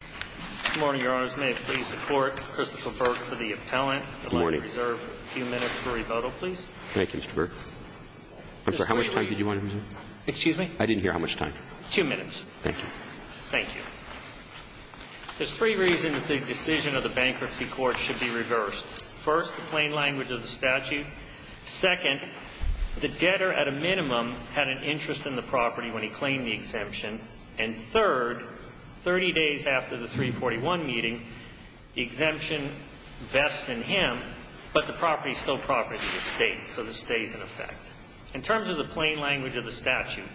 Good morning, Your Honors. May it please the Court, Christopher Burke for the appellant. Good morning. I'd like to reserve a few minutes for rebuttal, please. Thank you, Mr. Burke. I'm sorry, how much time did you want to reserve? Excuse me? I didn't hear how much time. Two minutes. Thank you. Thank you. There's three reasons the decision of the Bankruptcy Court should be reversed. First, the plain language of the statute. Second, the debtor, at a minimum, had an interest in the property when he claimed the exemption. And third, 30 days after the 341 meeting, the exemption vests in him, but the property is still property of the state, so the stay is in effect. In terms of the plain language of the statute,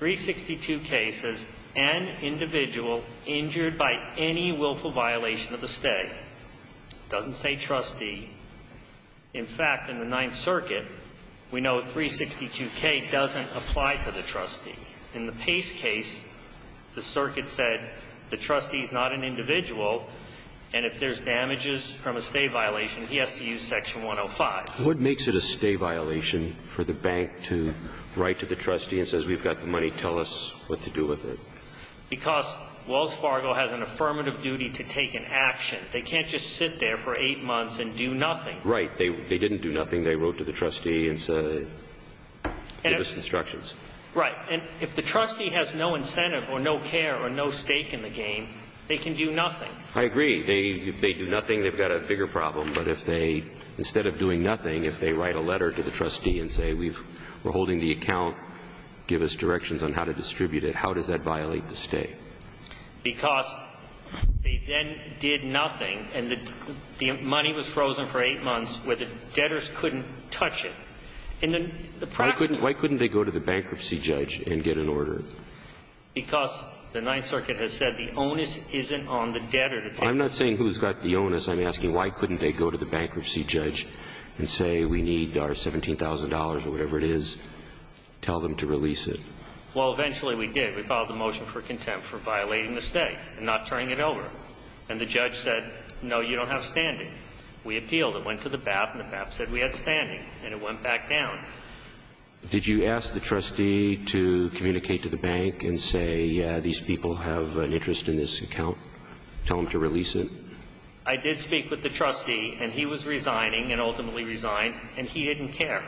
362K says an individual injured by any willful violation of the stay. It doesn't say trustee. In fact, in the Ninth Circuit, we know 362K doesn't apply to the trustee. In the Pace case, the circuit said the trustee is not an individual, and if there's damages from a stay violation, he has to use Section 105. What makes it a stay violation for the bank to write to the trustee and say, we've got the money, tell us what to do with it? Because Wells Fargo has an affirmative duty to take an action. They can't just sit there for eight months and do nothing. Right. They didn't do nothing. They wrote to the trustee and said, give us instructions. Right. And if the trustee has no incentive or no care or no stake in the game, they can do nothing. I agree. If they do nothing, they've got a bigger problem. But if they, instead of doing nothing, if they write a letter to the trustee and say, we're holding the account, give us directions on how to distribute it, how does that violate the stay? Because they then did nothing, and the money was frozen for eight months where the debtors couldn't touch it. Why couldn't they go to the bankruptcy judge and get an order? Because the Ninth Circuit has said the onus isn't on the debtor. I'm not saying who's got the onus. I'm asking why couldn't they go to the bankruptcy judge and say, we need our $17,000 or whatever it is, tell them to release it. Well, eventually we did. We filed a motion for contempt for violating the stay and not turning it over. And the judge said, no, you don't have standing. We appealed. It went to the BAP, and the BAP said we had standing. And it went back down. Did you ask the trustee to communicate to the bank and say these people have an interest in this account, tell them to release it? I did speak with the trustee, and he was resigning and ultimately resigned, and he didn't care.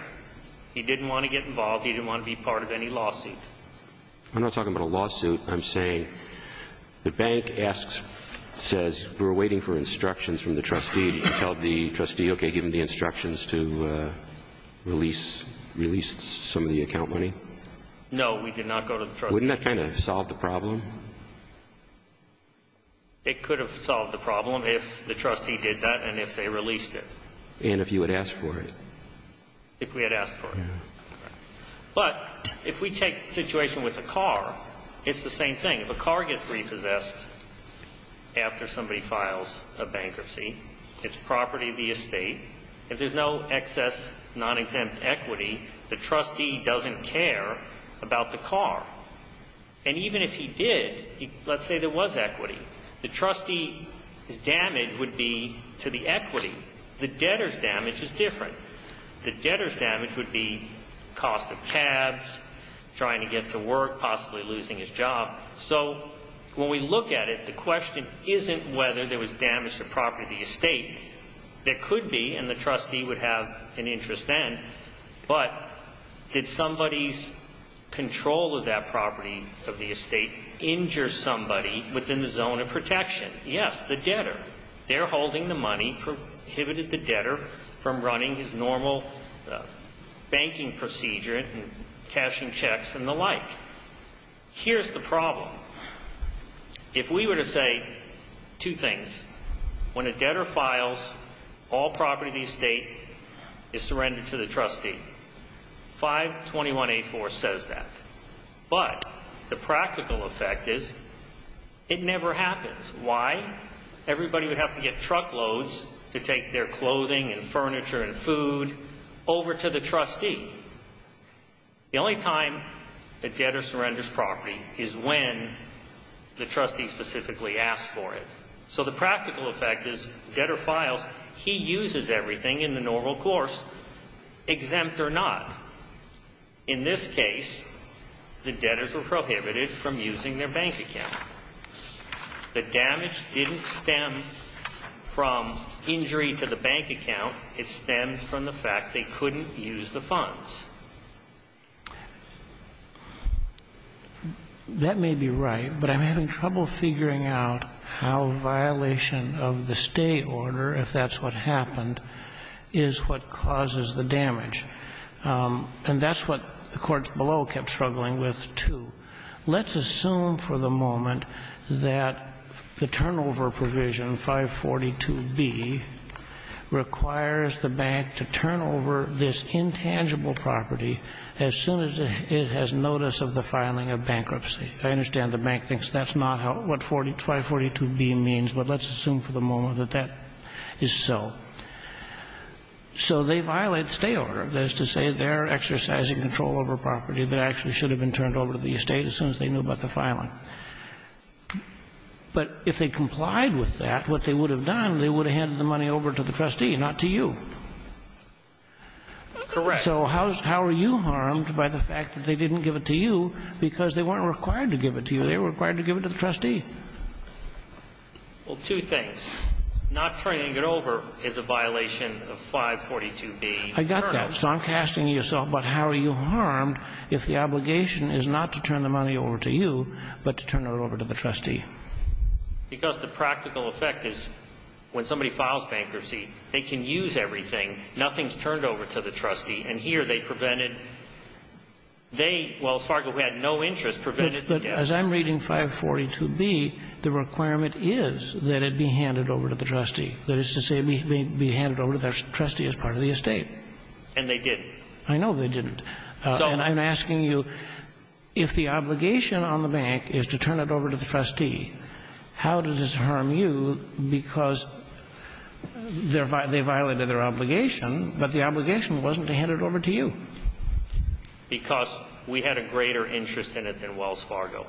He didn't want to get involved. He didn't want to be part of any lawsuit. I'm not talking about a lawsuit. I'm saying the bank asks, says, we're waiting for instructions from the trustee to release some of the account money. No, we did not go to the trustee. Wouldn't that kind of solve the problem? It could have solved the problem if the trustee did that and if they released it. And if you had asked for it. If we had asked for it. But if we take the situation with a car, it's the same thing. If a car gets repossessed after somebody files a bankruptcy, it's property of the estate. If there's no excess non-exempt equity, the trustee doesn't care about the car. And even if he did, let's say there was equity, the trustee's damage would be to the equity. The debtor's damage is different. The debtor's damage would be cost of tabs, trying to get to work, possibly losing his job. So when we look at it, the question isn't whether there was damage to the property of the estate. There could be, and the trustee would have an interest then. But did somebody's control of that property of the estate injure somebody within the zone of protection? Yes, the debtor. They're holding the money, prohibited the debtor from running his normal banking procedure and cashing checks and the like. Here's the problem. If we were to say two things, when a debtor files, all property of the estate is surrendered to the trustee. 521A4 says that. But the practical effect is it never happens. Why? Everybody would have to get truckloads to take their clothing and furniture and food over to the trustee. The only time a debtor surrenders property is when the trustee specifically asks for it. So the practical effect is debtor files, he uses everything in the normal course, exempt or not. In this case, the debtors were prohibited from using their bank account. The damage didn't stem from injury to the bank account. It stems from the fact they couldn't use the funds. That may be right, but I'm having trouble figuring out how violation of the State order, if that's what happened, is what causes the damage. And that's what the courts below kept struggling with, too. Let's assume for the moment that the turnover provision, 542B, requires the bank to turn over this intangible property as soon as it has notice of the filing of bankruptcy. I understand the bank thinks that's not what 542B means, but let's assume for the moment that that is so. So they violate the State order. That is to say, they're exercising control over property that actually should have been turned over to the State as soon as they knew about the filing. But if they complied with that, what they would have done, they would have handed the money over to the trustee, not to you. Correct. So how are you harmed by the fact that they didn't give it to you because they weren't required to give it to you. They were required to give it to the trustee. Well, two things. Not turning it over is a violation of 542B. I got that. So I'm casting to yourself, but how are you harmed if the obligation is not to turn the money over to you, but to turn it over to the trustee? Because the practical effect is when somebody files bankruptcy, they can use everything. Nothing is turned over to the trustee. And here they prevented they, well, as far as we had no interest, prevented the debt. As I'm reading 542B, the requirement is that it be handed over to the trustee. That is to say it be handed over to the trustee as part of the estate. And they didn't. I know they didn't. And I'm asking you, if the obligation on the bank is to turn it over to the trustee, how does this harm you because they violated their obligation, but the obligation wasn't to hand it over to you? Because we had a greater interest in it than Wells Fargo.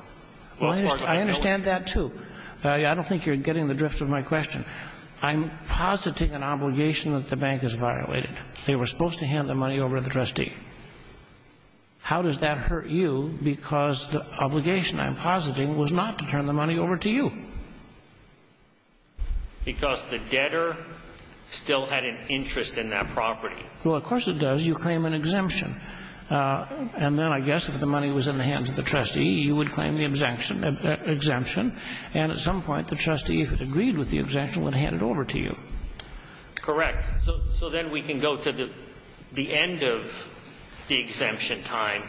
Well, I understand that, too. I don't think you're getting the drift of my question. I'm positing an obligation that the bank has violated. They were supposed to hand the money over to the trustee. How does that hurt you because the obligation I'm positing was not to turn the money over to you? Because the debtor still had an interest in that property. Well, of course it does. You claim an exemption. And then I guess if the money was in the hands of the trustee, you would claim the exemption. And at some point, the trustee, if it agreed with the exemption, would hand it over to you. Correct. So then we can go to the end of the exemption time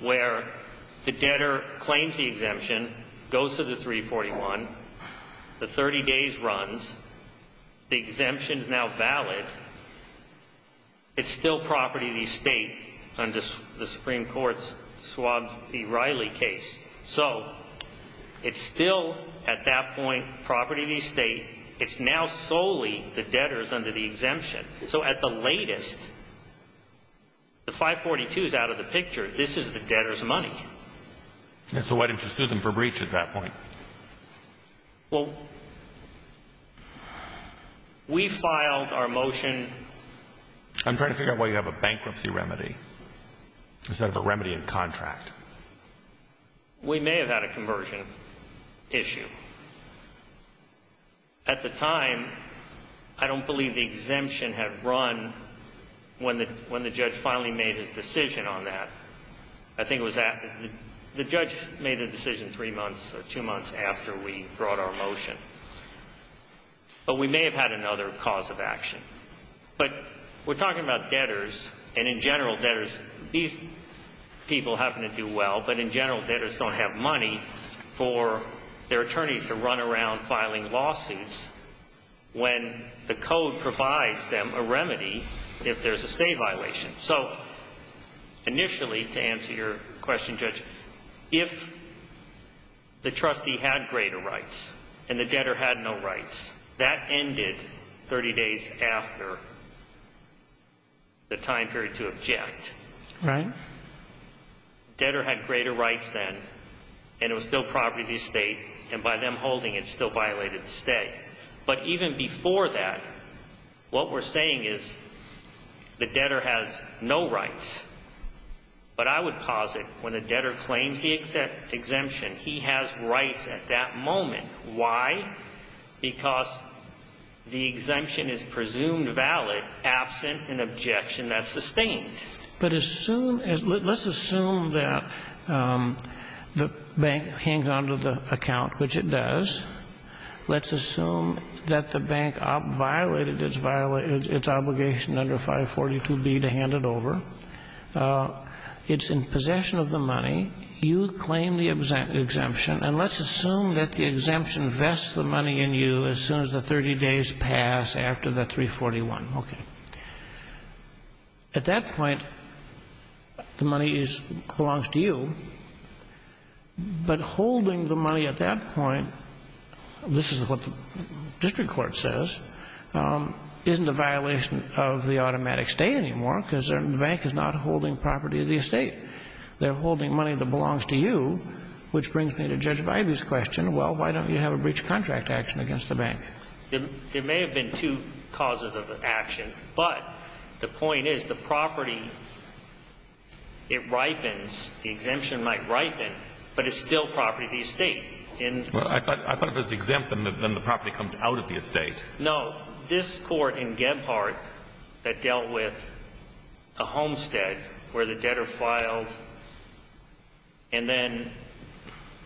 where the debtor claims the exemption, goes to the 341, the 30 days runs, the exemption is now valid, it's still property of the estate under the Supreme Court's Schwab v. Riley case. So it's still, at that point, property of the estate. It's now solely the debtor's under the exemption. So at the latest, the 542 is out of the picture. This is the debtor's money. So why didn't you sue them for breach at that point? Well, we filed our motion. I'm trying to figure out why you have a bankruptcy remedy instead of a remedy in contract. We may have had a conversion issue. At the time, I don't believe the exemption had run when the judge finally made his decision on that. I think it was at the judge made the decision three months or two months after we brought our motion. But we may have had another cause of action. But we're talking about debtors, and in general, debtors, these people happen to do well, but in general, debtors don't have money for their attorneys to run around filing lawsuits when the code provides them a remedy if there's a state violation. So initially, to answer your question, Judge, if the trustee had greater rights and the debtor had no rights, that ended 30 days after the time period to object. Right. The debtor had greater rights then, and it was still property of the estate, and by them holding it, still violated the state. But even before that, what we're saying is the debtor has no rights. But I would posit when the debtor claims the exemption, he has rights at that moment. Why? Because the exemption is presumed valid absent an objection that's sustained. But assume, let's assume that the bank hangs onto the account, which it does. Let's assume that the bank violated its obligation under 542B to hand it over. It's in possession of the money. You claim the exemption. And let's assume that the exemption vests the money in you as soon as the 30 days pass after the 341. Okay. At that point, the money belongs to you. But holding the money at that point, this is what the district court says, isn't a violation of the automatic state anymore because the bank is not holding property of the estate. They're holding money that belongs to you, which brings me to Judge Vibey's question. Well, why don't you have a breach of contract action against the bank? There may have been two causes of action. But the point is the property, it ripens. The exemption might ripen. But it's still property of the estate. I thought if it was exempt, then the property comes out of the estate. No. Well, this court in Gebhardt that dealt with a homestead where the debtor filed and then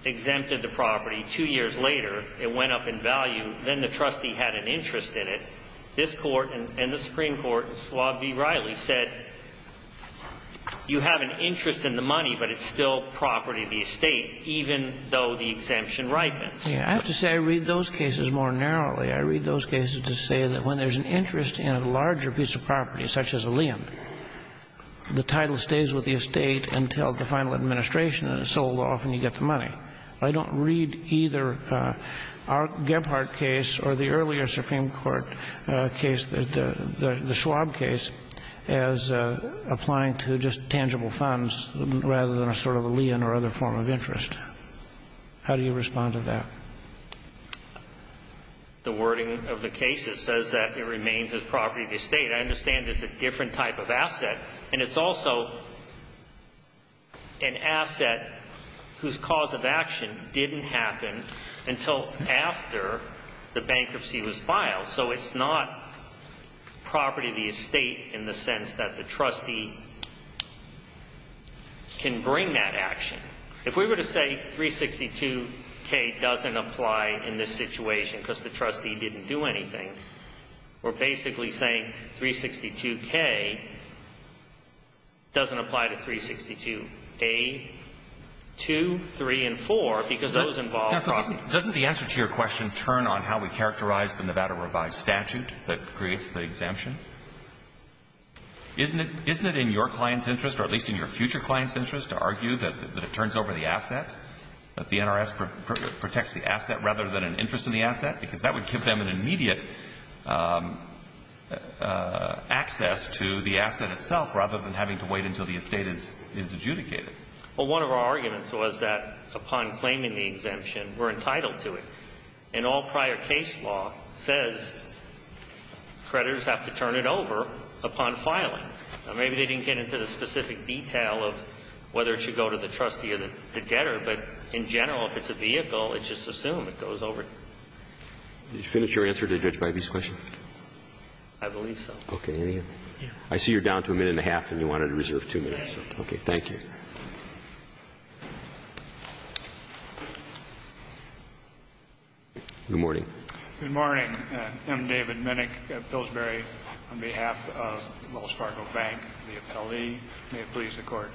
exempted the property two years later, it went up in value. Then the trustee had an interest in it. This court and the Supreme Court, Swab v. Riley, said you have an interest in the money, but it's still property of the estate even though the exemption ripens. Yeah. I have to say I read those cases more narrowly. I read those cases to say that when there's an interest in a larger piece of property, such as a lien, the title stays with the estate until the final administration is sold off and you get the money. I don't read either our Gebhardt case or the earlier Supreme Court case, the Schwab case, as applying to just tangible funds rather than a sort of a lien or other form of interest. How do you respond to that? The wording of the case says that it remains as property of the estate. I understand it's a different type of asset. And it's also an asset whose cause of action didn't happen until after the bankruptcy was filed. So it's not property of the estate in the sense that the trustee can bring that action. If we were to say 362K doesn't apply in this situation because the trustee didn't do anything, we're basically saying 362K doesn't apply to 362A, 2, 3, and 4 because those involve property. Doesn't the answer to your question turn on how we characterize the Nevada Revised Statute that creates the exemption? Isn't it in your client's interest or at least in your future client's interest to argue that it turns over the asset, that the NRS protects the asset rather than an interest in the asset? Because that would give them an immediate access to the asset itself rather than having to wait until the estate is adjudicated. Well, one of our arguments was that upon claiming the exemption, we're entitled to it. And all prior case law says creditors have to turn it over upon filing. Now, maybe they didn't get into the specific detail of whether it should go to the trustee or the debtor. But in general, if it's a vehicle, it's just assumed it goes over. Did you finish your answer to Judge Bybee's question? I believe so. Okay. I see you're down to a minute and a half and you wanted to reserve two minutes. Thank you. Good morning. I'm David Minnick of Pillsbury on behalf of Wells Fargo Bank, the appellee. May it please the Court.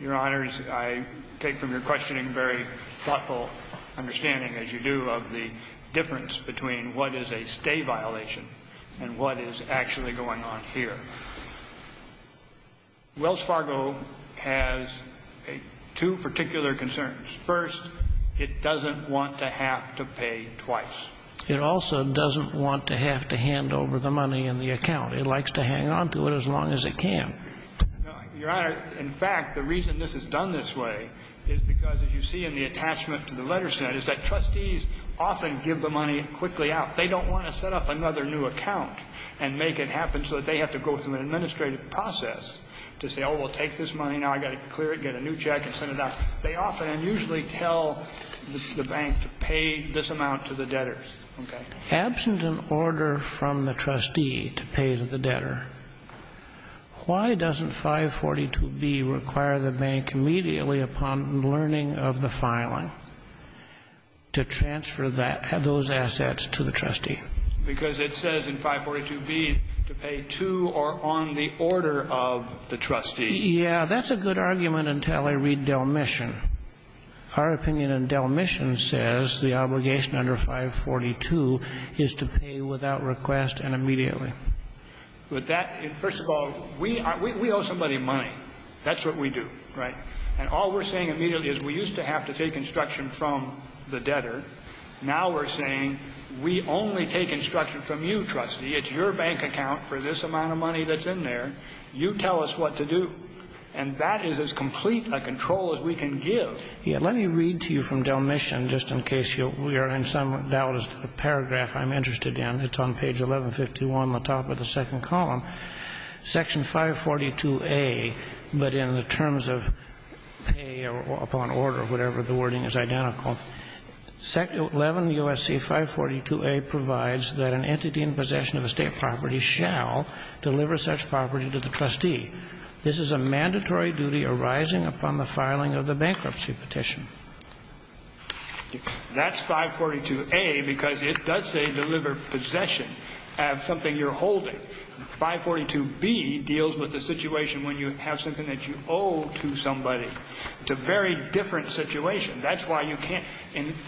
Your Honors, I take from your questioning a very thoughtful understanding, as you do, of the difference between what is a stay violation and what is actually going on here. Wells Fargo has two particular concerns. First, it doesn't want to have to pay twice. It also doesn't want to have to hand over the money in the account. It likes to hang on to it as long as it can. Your Honor, in fact, the reason this is done this way is because, as you see in the attachment to the letters tonight, is that trustees often give the money quickly out. They don't want to set up another new account and make it happen so that they have to go through an administrative process to say, oh, we'll take this money now, I've got to clear it, get a new check and send it out. They often and usually tell the bank to pay this amount to the debtors. Okay? Absent an order from the trustee to pay to the debtor, why doesn't 542B require the bank immediately upon learning of the filing to transfer those assets to the trustee? Because it says in 542B to pay to or on the order of the trustee. Yeah, that's a good argument until I read Del Mission. Our opinion in Del Mission says the obligation under 542 is to pay without request and immediately. But that, first of all, we owe somebody money. That's what we do. Right? And all we're saying immediately is we used to have to take instruction from the debtor. Now we're saying we only take instruction from you, trustee. It's your bank account for this amount of money that's in there. You tell us what to do. And that is as complete a control as we can give. Yeah. Let me read to you from Del Mission just in case we are in some doubt as to the paragraph I'm interested in. It's on page 1151, the top of the second column. Section 542A, but in the terms of pay upon order, whatever the wording is identical, 11 U.S.C. 542A provides that an entity in possession of estate property shall deliver such property to the trustee. This is a mandatory duty arising upon the filing of the bankruptcy petition. That's 542A because it does say deliver possession of something you're holding. 542B deals with the situation when you have something that you owe to somebody. It's a very different situation. That's why you can't.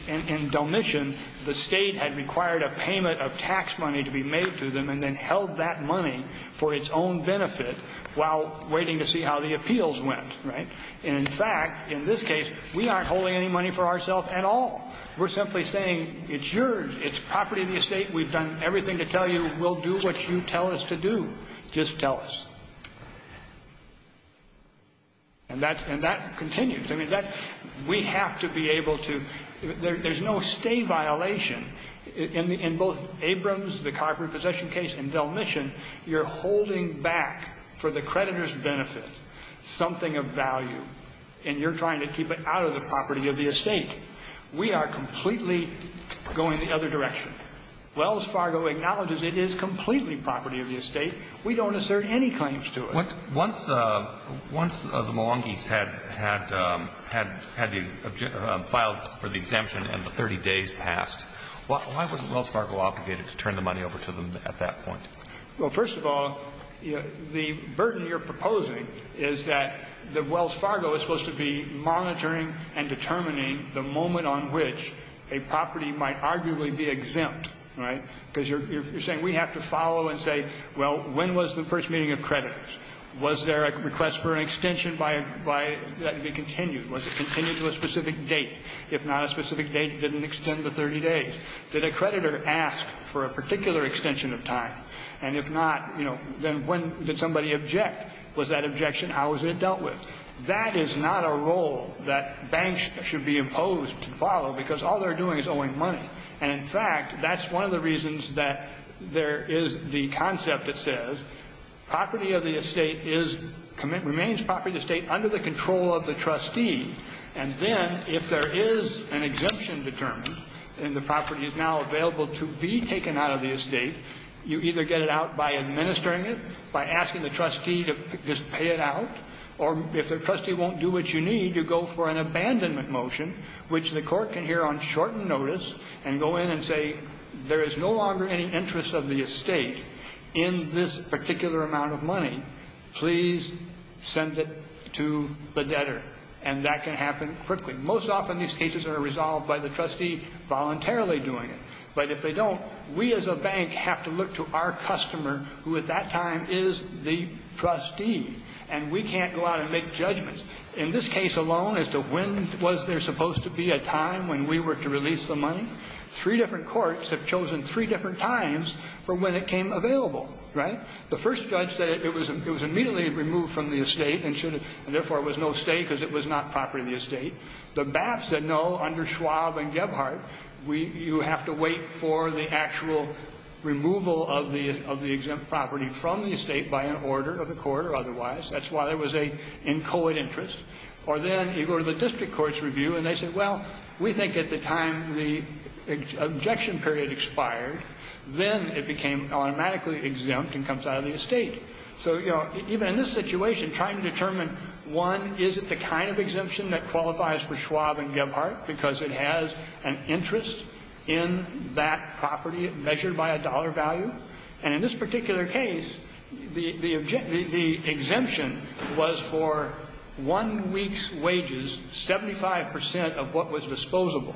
In Del Mission, the State had required a payment of tax money to be made to them and then held that money for its own benefit while waiting to see how the appeals went, right? And, in fact, in this case, we aren't holding any money for ourselves at all. We're simply saying it's yours. It's property of the estate. We've done everything to tell you. We'll do what you tell us to do. Just tell us. And that continues. I mean, that's we have to be able to. There's no stay violation. In both Abrams, the copyright possession case, and Del Mission, you're holding back for the creditor's benefit something of value, and you're trying to keep it out of the property of the estate. We are completely going the other direction. Wells Fargo acknowledges it is completely property of the estate. We don't assert any claims to it. Once the Milwaukees had filed for the exemption and the 30 days passed, why wasn't Wells Fargo obligated to turn the money over to them at that point? Well, first of all, the burden you're proposing is that Wells Fargo is supposed to be monitoring and determining the moment on which a property might arguably be exempt, right? Because you're saying we have to follow and say, well, when was the first meeting of creditors? Was there a request for an extension that could be continued? Was it continued to a specific date? If not a specific date, did it extend the 30 days? Did a creditor ask for a particular extension of time? And if not, you know, then when did somebody object? Was that objection, how was it dealt with? That is not a role that banks should be imposed to follow, because all they're doing is owing money. And in fact, that's one of the reasons that there is the concept that says property of the estate is, remains property of the estate under the control of the trustee. And then if there is an exemption determined and the property is now available to be taken out of the estate, you either get it out by administering it, by asking the trustee to just pay it out. Or if the trustee won't do what you need, you go for an abandonment motion, which the court can hear on shortened notice and go in and say, there is no longer any interest of the estate in this particular amount of money. Please send it to the debtor. And that can happen quickly. Most often these cases are resolved by the trustee voluntarily doing it. But if they don't, we as a bank have to look to our customer, who at that time is the trustee. And we can't go out and make judgments. In this case alone as to when was there supposed to be a time when we were to release the money, three different courts have chosen three different times for when it came available, right? The first judge said it was immediately removed from the estate and therefore it was no estate because it was not property of the estate. The BAP said no, under Schwab and Gebhardt, you have to wait for the actual removal of the exempt property from the estate by an order of the court or otherwise. That's why there was an inchoate interest. Or then you go to the district court's review and they say, well, we think at the time the objection period expired, then it became automatically exempt and comes out of the estate. So even in this situation, trying to determine, one, is it the kind of exemption that qualifies for Schwab and Gebhardt because it has an interest in that property measured by a dollar value? And in this particular case, the exemption was for one week's wages, 75 percent of what was disposable.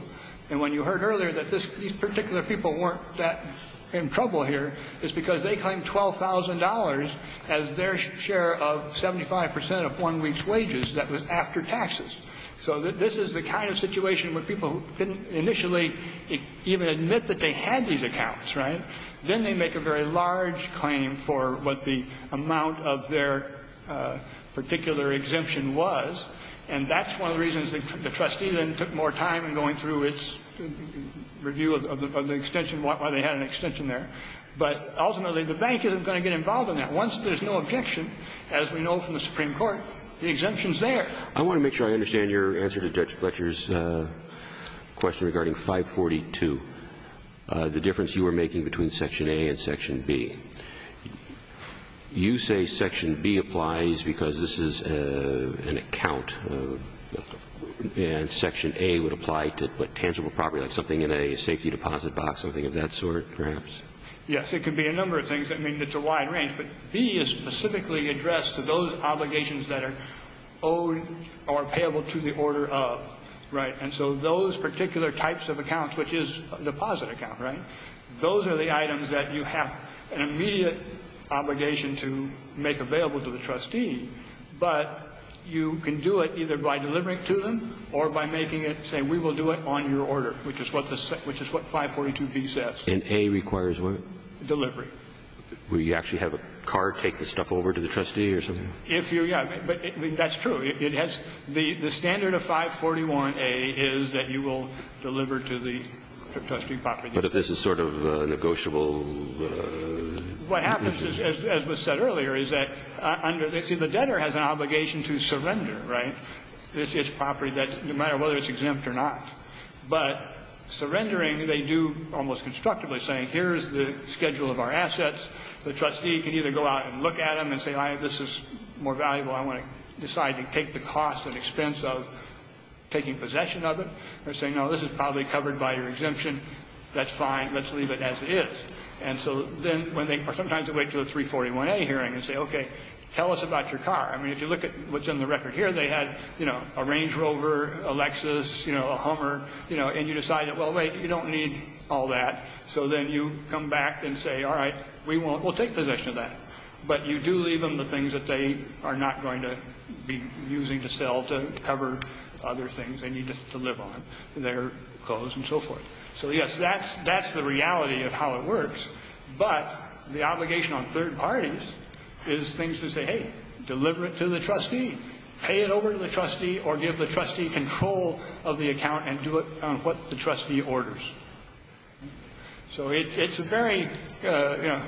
And when you heard earlier that these particular people weren't that in trouble here, it's because they claimed $12,000 as their share of 75 percent of one week's wages that was after taxes. So this is the kind of situation where people didn't initially even admit that they had these accounts, right? Then they make a very large claim for what the amount of their particular exemption was. And that's one of the reasons the trustee then took more time in going through its review of the extension, why they had an extension there. But ultimately, the bank isn't going to get involved in that. Once there's no objection, as we know from the Supreme Court, the exemption's there. I want to make sure I understand your answer to Judge Fletcher's question regarding 542. The difference you were making between Section A and Section B. You say Section B applies because this is an account, and Section A would apply to, what, tangible property, like something in a safety deposit box, something of that sort, perhaps? Yes. It could be a number of things. I mean, it's a wide range. But B is specifically addressed to those obligations that are owed or payable to the order of, right? And so those particular types of accounts, which is a deposit account, right? Those are the items that you have an immediate obligation to make available to the trustee. But you can do it either by delivering it to them or by making it say, we will do it on your order, which is what 542B says. And A requires what? Delivery. Will you actually have a car take this stuff over to the trustee or something? Yeah. But that's true. It has the standard of 541A is that you will deliver to the trustee property. But if this is sort of negotiable? What happens is, as was said earlier, is that under the debtor has an obligation to surrender, right, its property, no matter whether it's exempt or not. But surrendering, they do almost constructively, saying here is the schedule of our assets. The trustee can either go out and look at them and say, this is more valuable. I want to decide to take the cost and expense of taking possession of it. They're saying, no, this is probably covered by your exemption. That's fine. Let's leave it as it is. And so then when they sometimes wait until the 341A hearing and say, OK, tell us about your car. I mean, if you look at what's in the record here, they had a Range Rover, a Lexus, a Hummer. And you decide, well, wait, you don't need all that. So then you come back and say, all right, we'll take possession of that. But you do leave them the things that they are not going to be using to sell to cover other things they need to live on, their clothes and so forth. So, yes, that's the reality of how it works. But the obligation on third parties is things to say, hey, deliver it to the trustee. Pay it over to the trustee or give the trustee control of the account and do it on what the trustee orders. So it's a very, you know,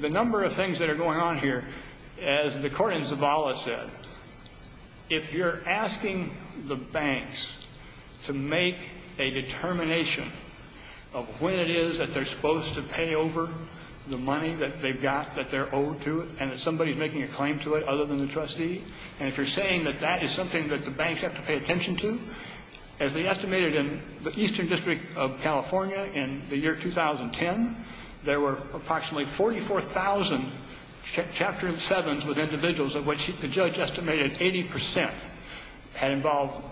the number of things that are going on here, as the court in Zavala said, if you're asking the banks to make a determination of when it is that they're supposed to pay over the money that they've got that they're owed to and that somebody's making a claim to it other than the trustee, and if you're saying that that is something that the banks have to pay attention to. As they estimated in the Eastern District of California in the year 2010, there were approximately 44,000 Chapter 7s with individuals of which the judge estimated 80 percent had involved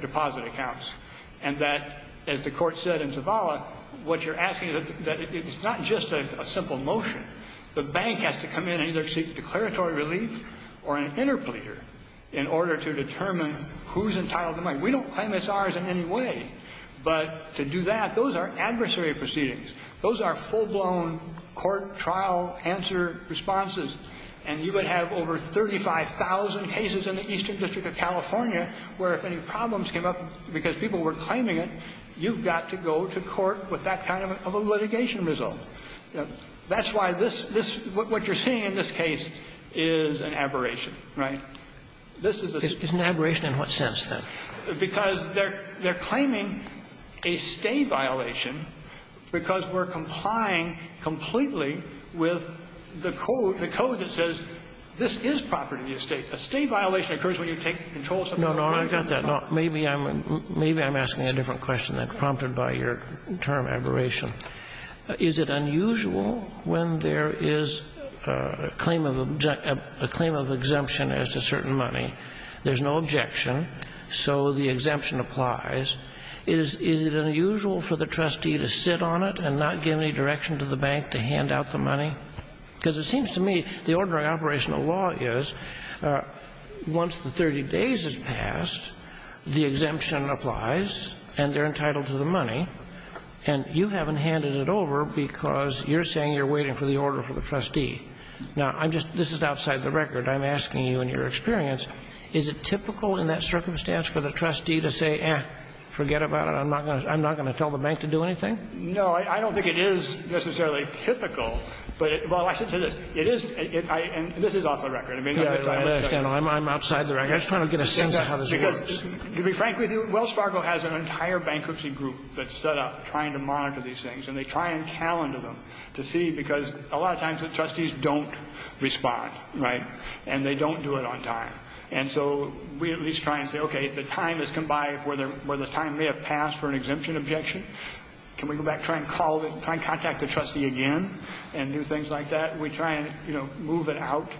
deposit accounts, and that, as the court said in Zavala, what you're asking is that it's not just a simple motion. The bank has to come in and either seek declaratory relief or an interpleader in order to determine who's entitled to the money. We don't claim it's ours in any way, but to do that, those are adversary proceedings. Those are full-blown court trial answer responses, and you could have over 35,000 cases in the Eastern District of California where if any problems came up because people were claiming it, you've got to go to court with that kind of a litigation That's why this, this, what you're seeing in this case is an aberration, right? This is a... Is an aberration in what sense, then? Because they're, they're claiming a stay violation because we're complying completely with the code, the code that says this is property of the estate. A stay violation occurs when you take control of something... No, no, I got that. Maybe I'm, maybe I'm asking a different question than prompted by your term, aberration. Is it unusual when there is a claim of, a claim of exemption as to certain money, there's no objection, so the exemption applies, is, is it unusual for the trustee to sit on it and not give any direction to the bank to hand out the money? Because it seems to me the ordinary operational law is once the 30 days has passed, the exemption applies, and they're entitled to the money. And you haven't handed it over because you're saying you're waiting for the order for the trustee. Now, I'm just, this is outside the record. I'm asking you in your experience, is it typical in that circumstance for the trustee to say, eh, forget about it, I'm not going to, I'm not going to tell the bank to do anything? No, I don't think it is necessarily typical, but it, well, I should say this. It is, it, I, and this is off the record. I mean... I'm outside the record. I'm just trying to get a sense of how this works. To be frank with you, Wells Fargo has an entire bankruptcy group that's set up trying to monitor these things, and they try and calendar them to see, because a lot of times the trustees don't respond, right, and they don't do it on time. And so we at least try and say, okay, the time has come by where the time may have passed for an exemption objection. Can we go back, try and call, try and contact the trustee again and do things like We try and, you know, move it out.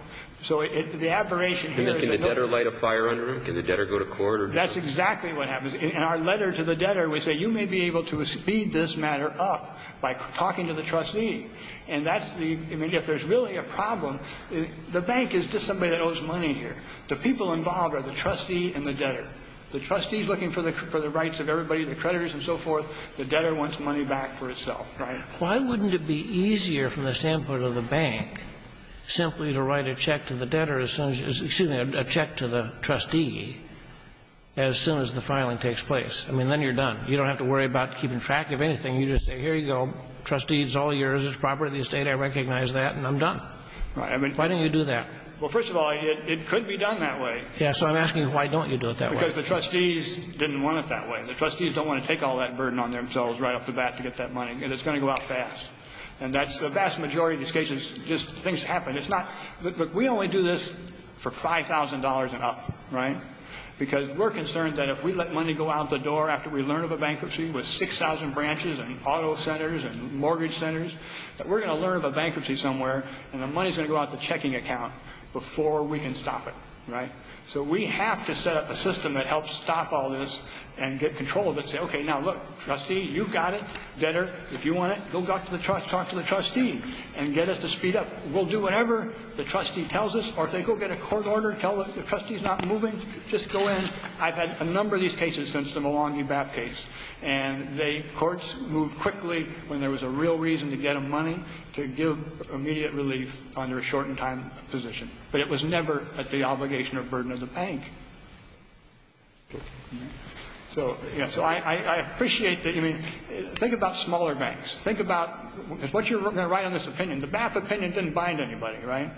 So it, the aberration here is that... Can the debtor light a fire under him? Can the debtor go to court? That's exactly what happens. In our letter to the debtor, we say, you may be able to speed this matter up by talking to the trustee. And that's the, I mean, if there's really a problem, the bank is just somebody that owes money here. The people involved are the trustee and the debtor. The trustee's looking for the, for the rights of everybody, the creditors and so forth. The debtor wants money back for itself, right? Why wouldn't it be easier from the standpoint of the bank simply to write a check to the debtor as soon as, excuse me, a check to the trustee as soon as the filing takes place? I mean, then you're done. You don't have to worry about keeping track of anything. You just say, here you go, trustee, it's all yours, it's property, estate, I recognize that, and I'm done. Why didn't you do that? Well, first of all, it could be done that way. Yeah, so I'm asking why don't you do it that way? Because the trustees didn't want it that way. The trustees don't want to take all that burden on themselves right off the bat to get that money, and it's going to go out fast. And that's the vast majority of these cases, just things happen. It's not, look, we only do this for $5,000 and up, right? Because we're concerned that if we let money go out the door after we learn of a bankruptcy with 6,000 branches and auto centers and mortgage centers, that we're going to learn of a bankruptcy somewhere, and the money's going to go out the checking account before we can stop it, right? So we have to set up a system that helps stop all this and get control of it and say, okay, now look, trustee, you've got it better. If you want it, go talk to the trustee and get us to speed up. We'll do whatever the trustee tells us, or if they go get a court order and tell us the trustee's not moving, just go in. I've had a number of these cases since the Milwaukee BAP case, and courts moved quickly when there was a real reason to get them money to give immediate relief under a shortened time position. But it was never at the obligation or burden of the bank. So I appreciate that. I mean, think about smaller banks. Think about what you're going to write on this opinion. The BAP opinion didn't bind anybody, right?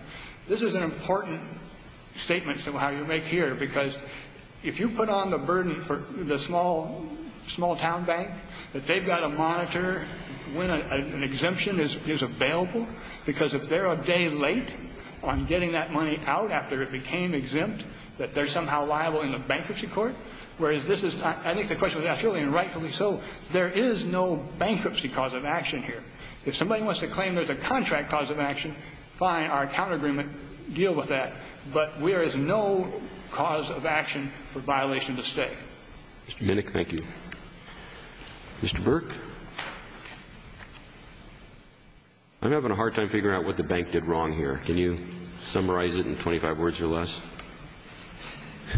This is an important statement somehow you make here, because if you put on the burden for the small town bank that they've got to monitor when an exemption is available, because if they're a day late on getting that money out after it became exempt, that they're somehow liable in the bankruptcy court. Whereas this is, I think the question was asked earlier, and rightfully so, there is no bankruptcy cause of action here. If somebody wants to claim there's a contract cause of action, fine, our account agreement deals with that. But there is no cause of action for violation of the state. Mr. Minnick, thank you. Mr. Burke? I'm having a hard time figuring out what the bank did wrong here. Can you summarize it in 25 words or less?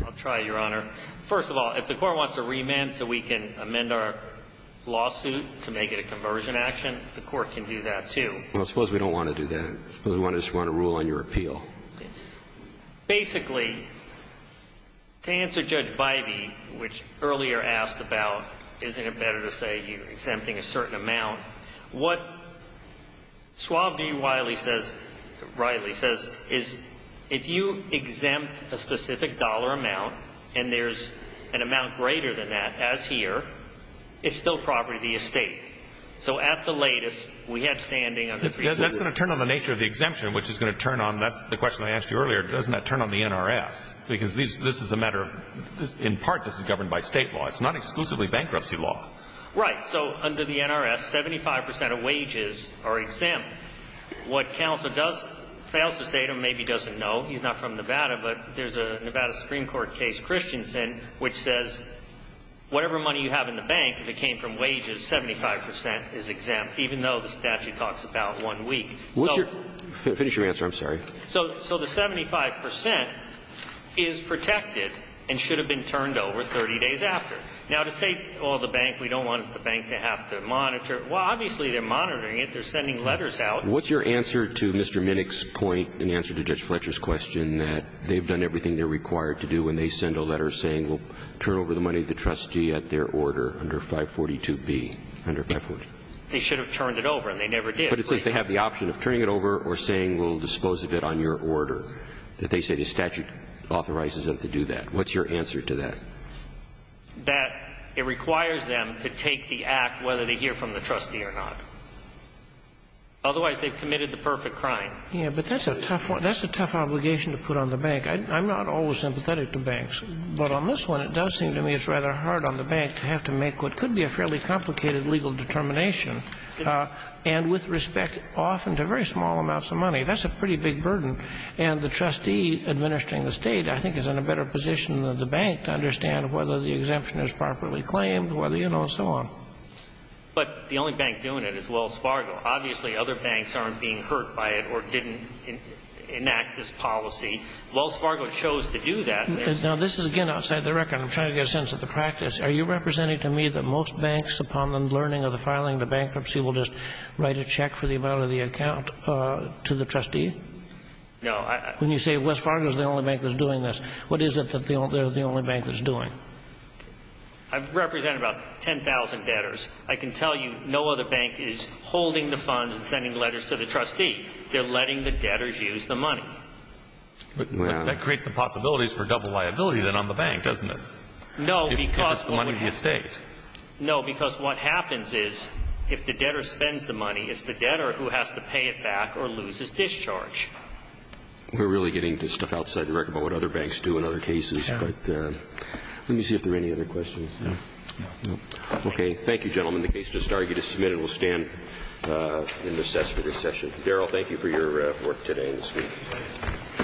I'll try, Your Honor. First of all, if the Court wants to remand so we can amend our lawsuit to make it a conversion action, the Court can do that, too. Well, I suppose we don't want to do that. I suppose we just want to rule on your appeal. Basically, to answer Judge Vibey, which earlier asked about, isn't it better to say you exempt a certain amount? What Suave V. Riley says is, if you exempt a specific dollar amount and there's an amount greater than that, as here, it's still property of the estate. So at the latest, we have standing under 360. That's going to turn on the nature of the exemption, which is going to turn on, that's the question I asked you earlier, doesn't that turn on the NRS? Because this is a matter of, in part, this is governed by state law. It's not exclusively bankruptcy law. Right. So under the NRS, 75 percent of wages are exempt. What counsel does, fails to state or maybe doesn't know, he's not from Nevada, but there's a Nevada Supreme Court case, Christensen, which says whatever money you have in the bank, if it came from wages, 75 percent is exempt, even though the statute talks about one week. So the 75 percent is protected and should have been turned over 30 days after. Now, to say, oh, the bank, we don't want the bank to have to monitor, well, obviously they're monitoring it. They're sending letters out. What's your answer to Mr. Minnick's point in answer to Judge Fletcher's question that they've done everything they're required to do when they send a letter saying we'll turn over the money to the trustee at their order under 542B, under 542? They should have turned it over, and they never did. But it says they have the option of turning it over or saying we'll dispose of it on your order, that they say the statute authorizes them to do that. What's your answer to that? That it requires them to take the act whether they hear from the trustee or not. Otherwise, they've committed the perfect crime. Yeah, but that's a tough one. That's a tough obligation to put on the bank. I'm not always sympathetic to banks, but on this one, it does seem to me it's rather hard on the bank to have to make what could be a fairly complicated legal determination and with respect often to very small amounts of money. That's a pretty big burden, and the trustee administering the State, I think, is in need to understand whether the exemption is properly claimed, whether, you know, and so on. But the only bank doing it is Wells Fargo. Obviously, other banks aren't being hurt by it or didn't enact this policy. Wells Fargo chose to do that. Now, this is, again, outside the record. I'm trying to get a sense of the practice. Are you representing to me that most banks, upon the learning of the filing of the bankruptcy, will just write a check for the amount of the account to the trustee? No. When you say Wells Fargo is the only bank that's doing this, what is it that they're the only bank that's doing? I've represented about 10,000 debtors. I can tell you no other bank is holding the funds and sending letters to the trustee. They're letting the debtors use the money. But that creates the possibilities for double liability then on the bank, doesn't it? No, because... If it's the money of the estate. No, because what happens is if the debtor spends the money, it's the debtor who has to pay it back or loses discharge. We're really getting to stuff outside the record about what other banks do in other cases, but let me see if there are any other questions. No. Okay. Thank you, gentlemen. The case just argued is submitted. We'll stand and recess for this session. Darrell, thank you for your work today and this week.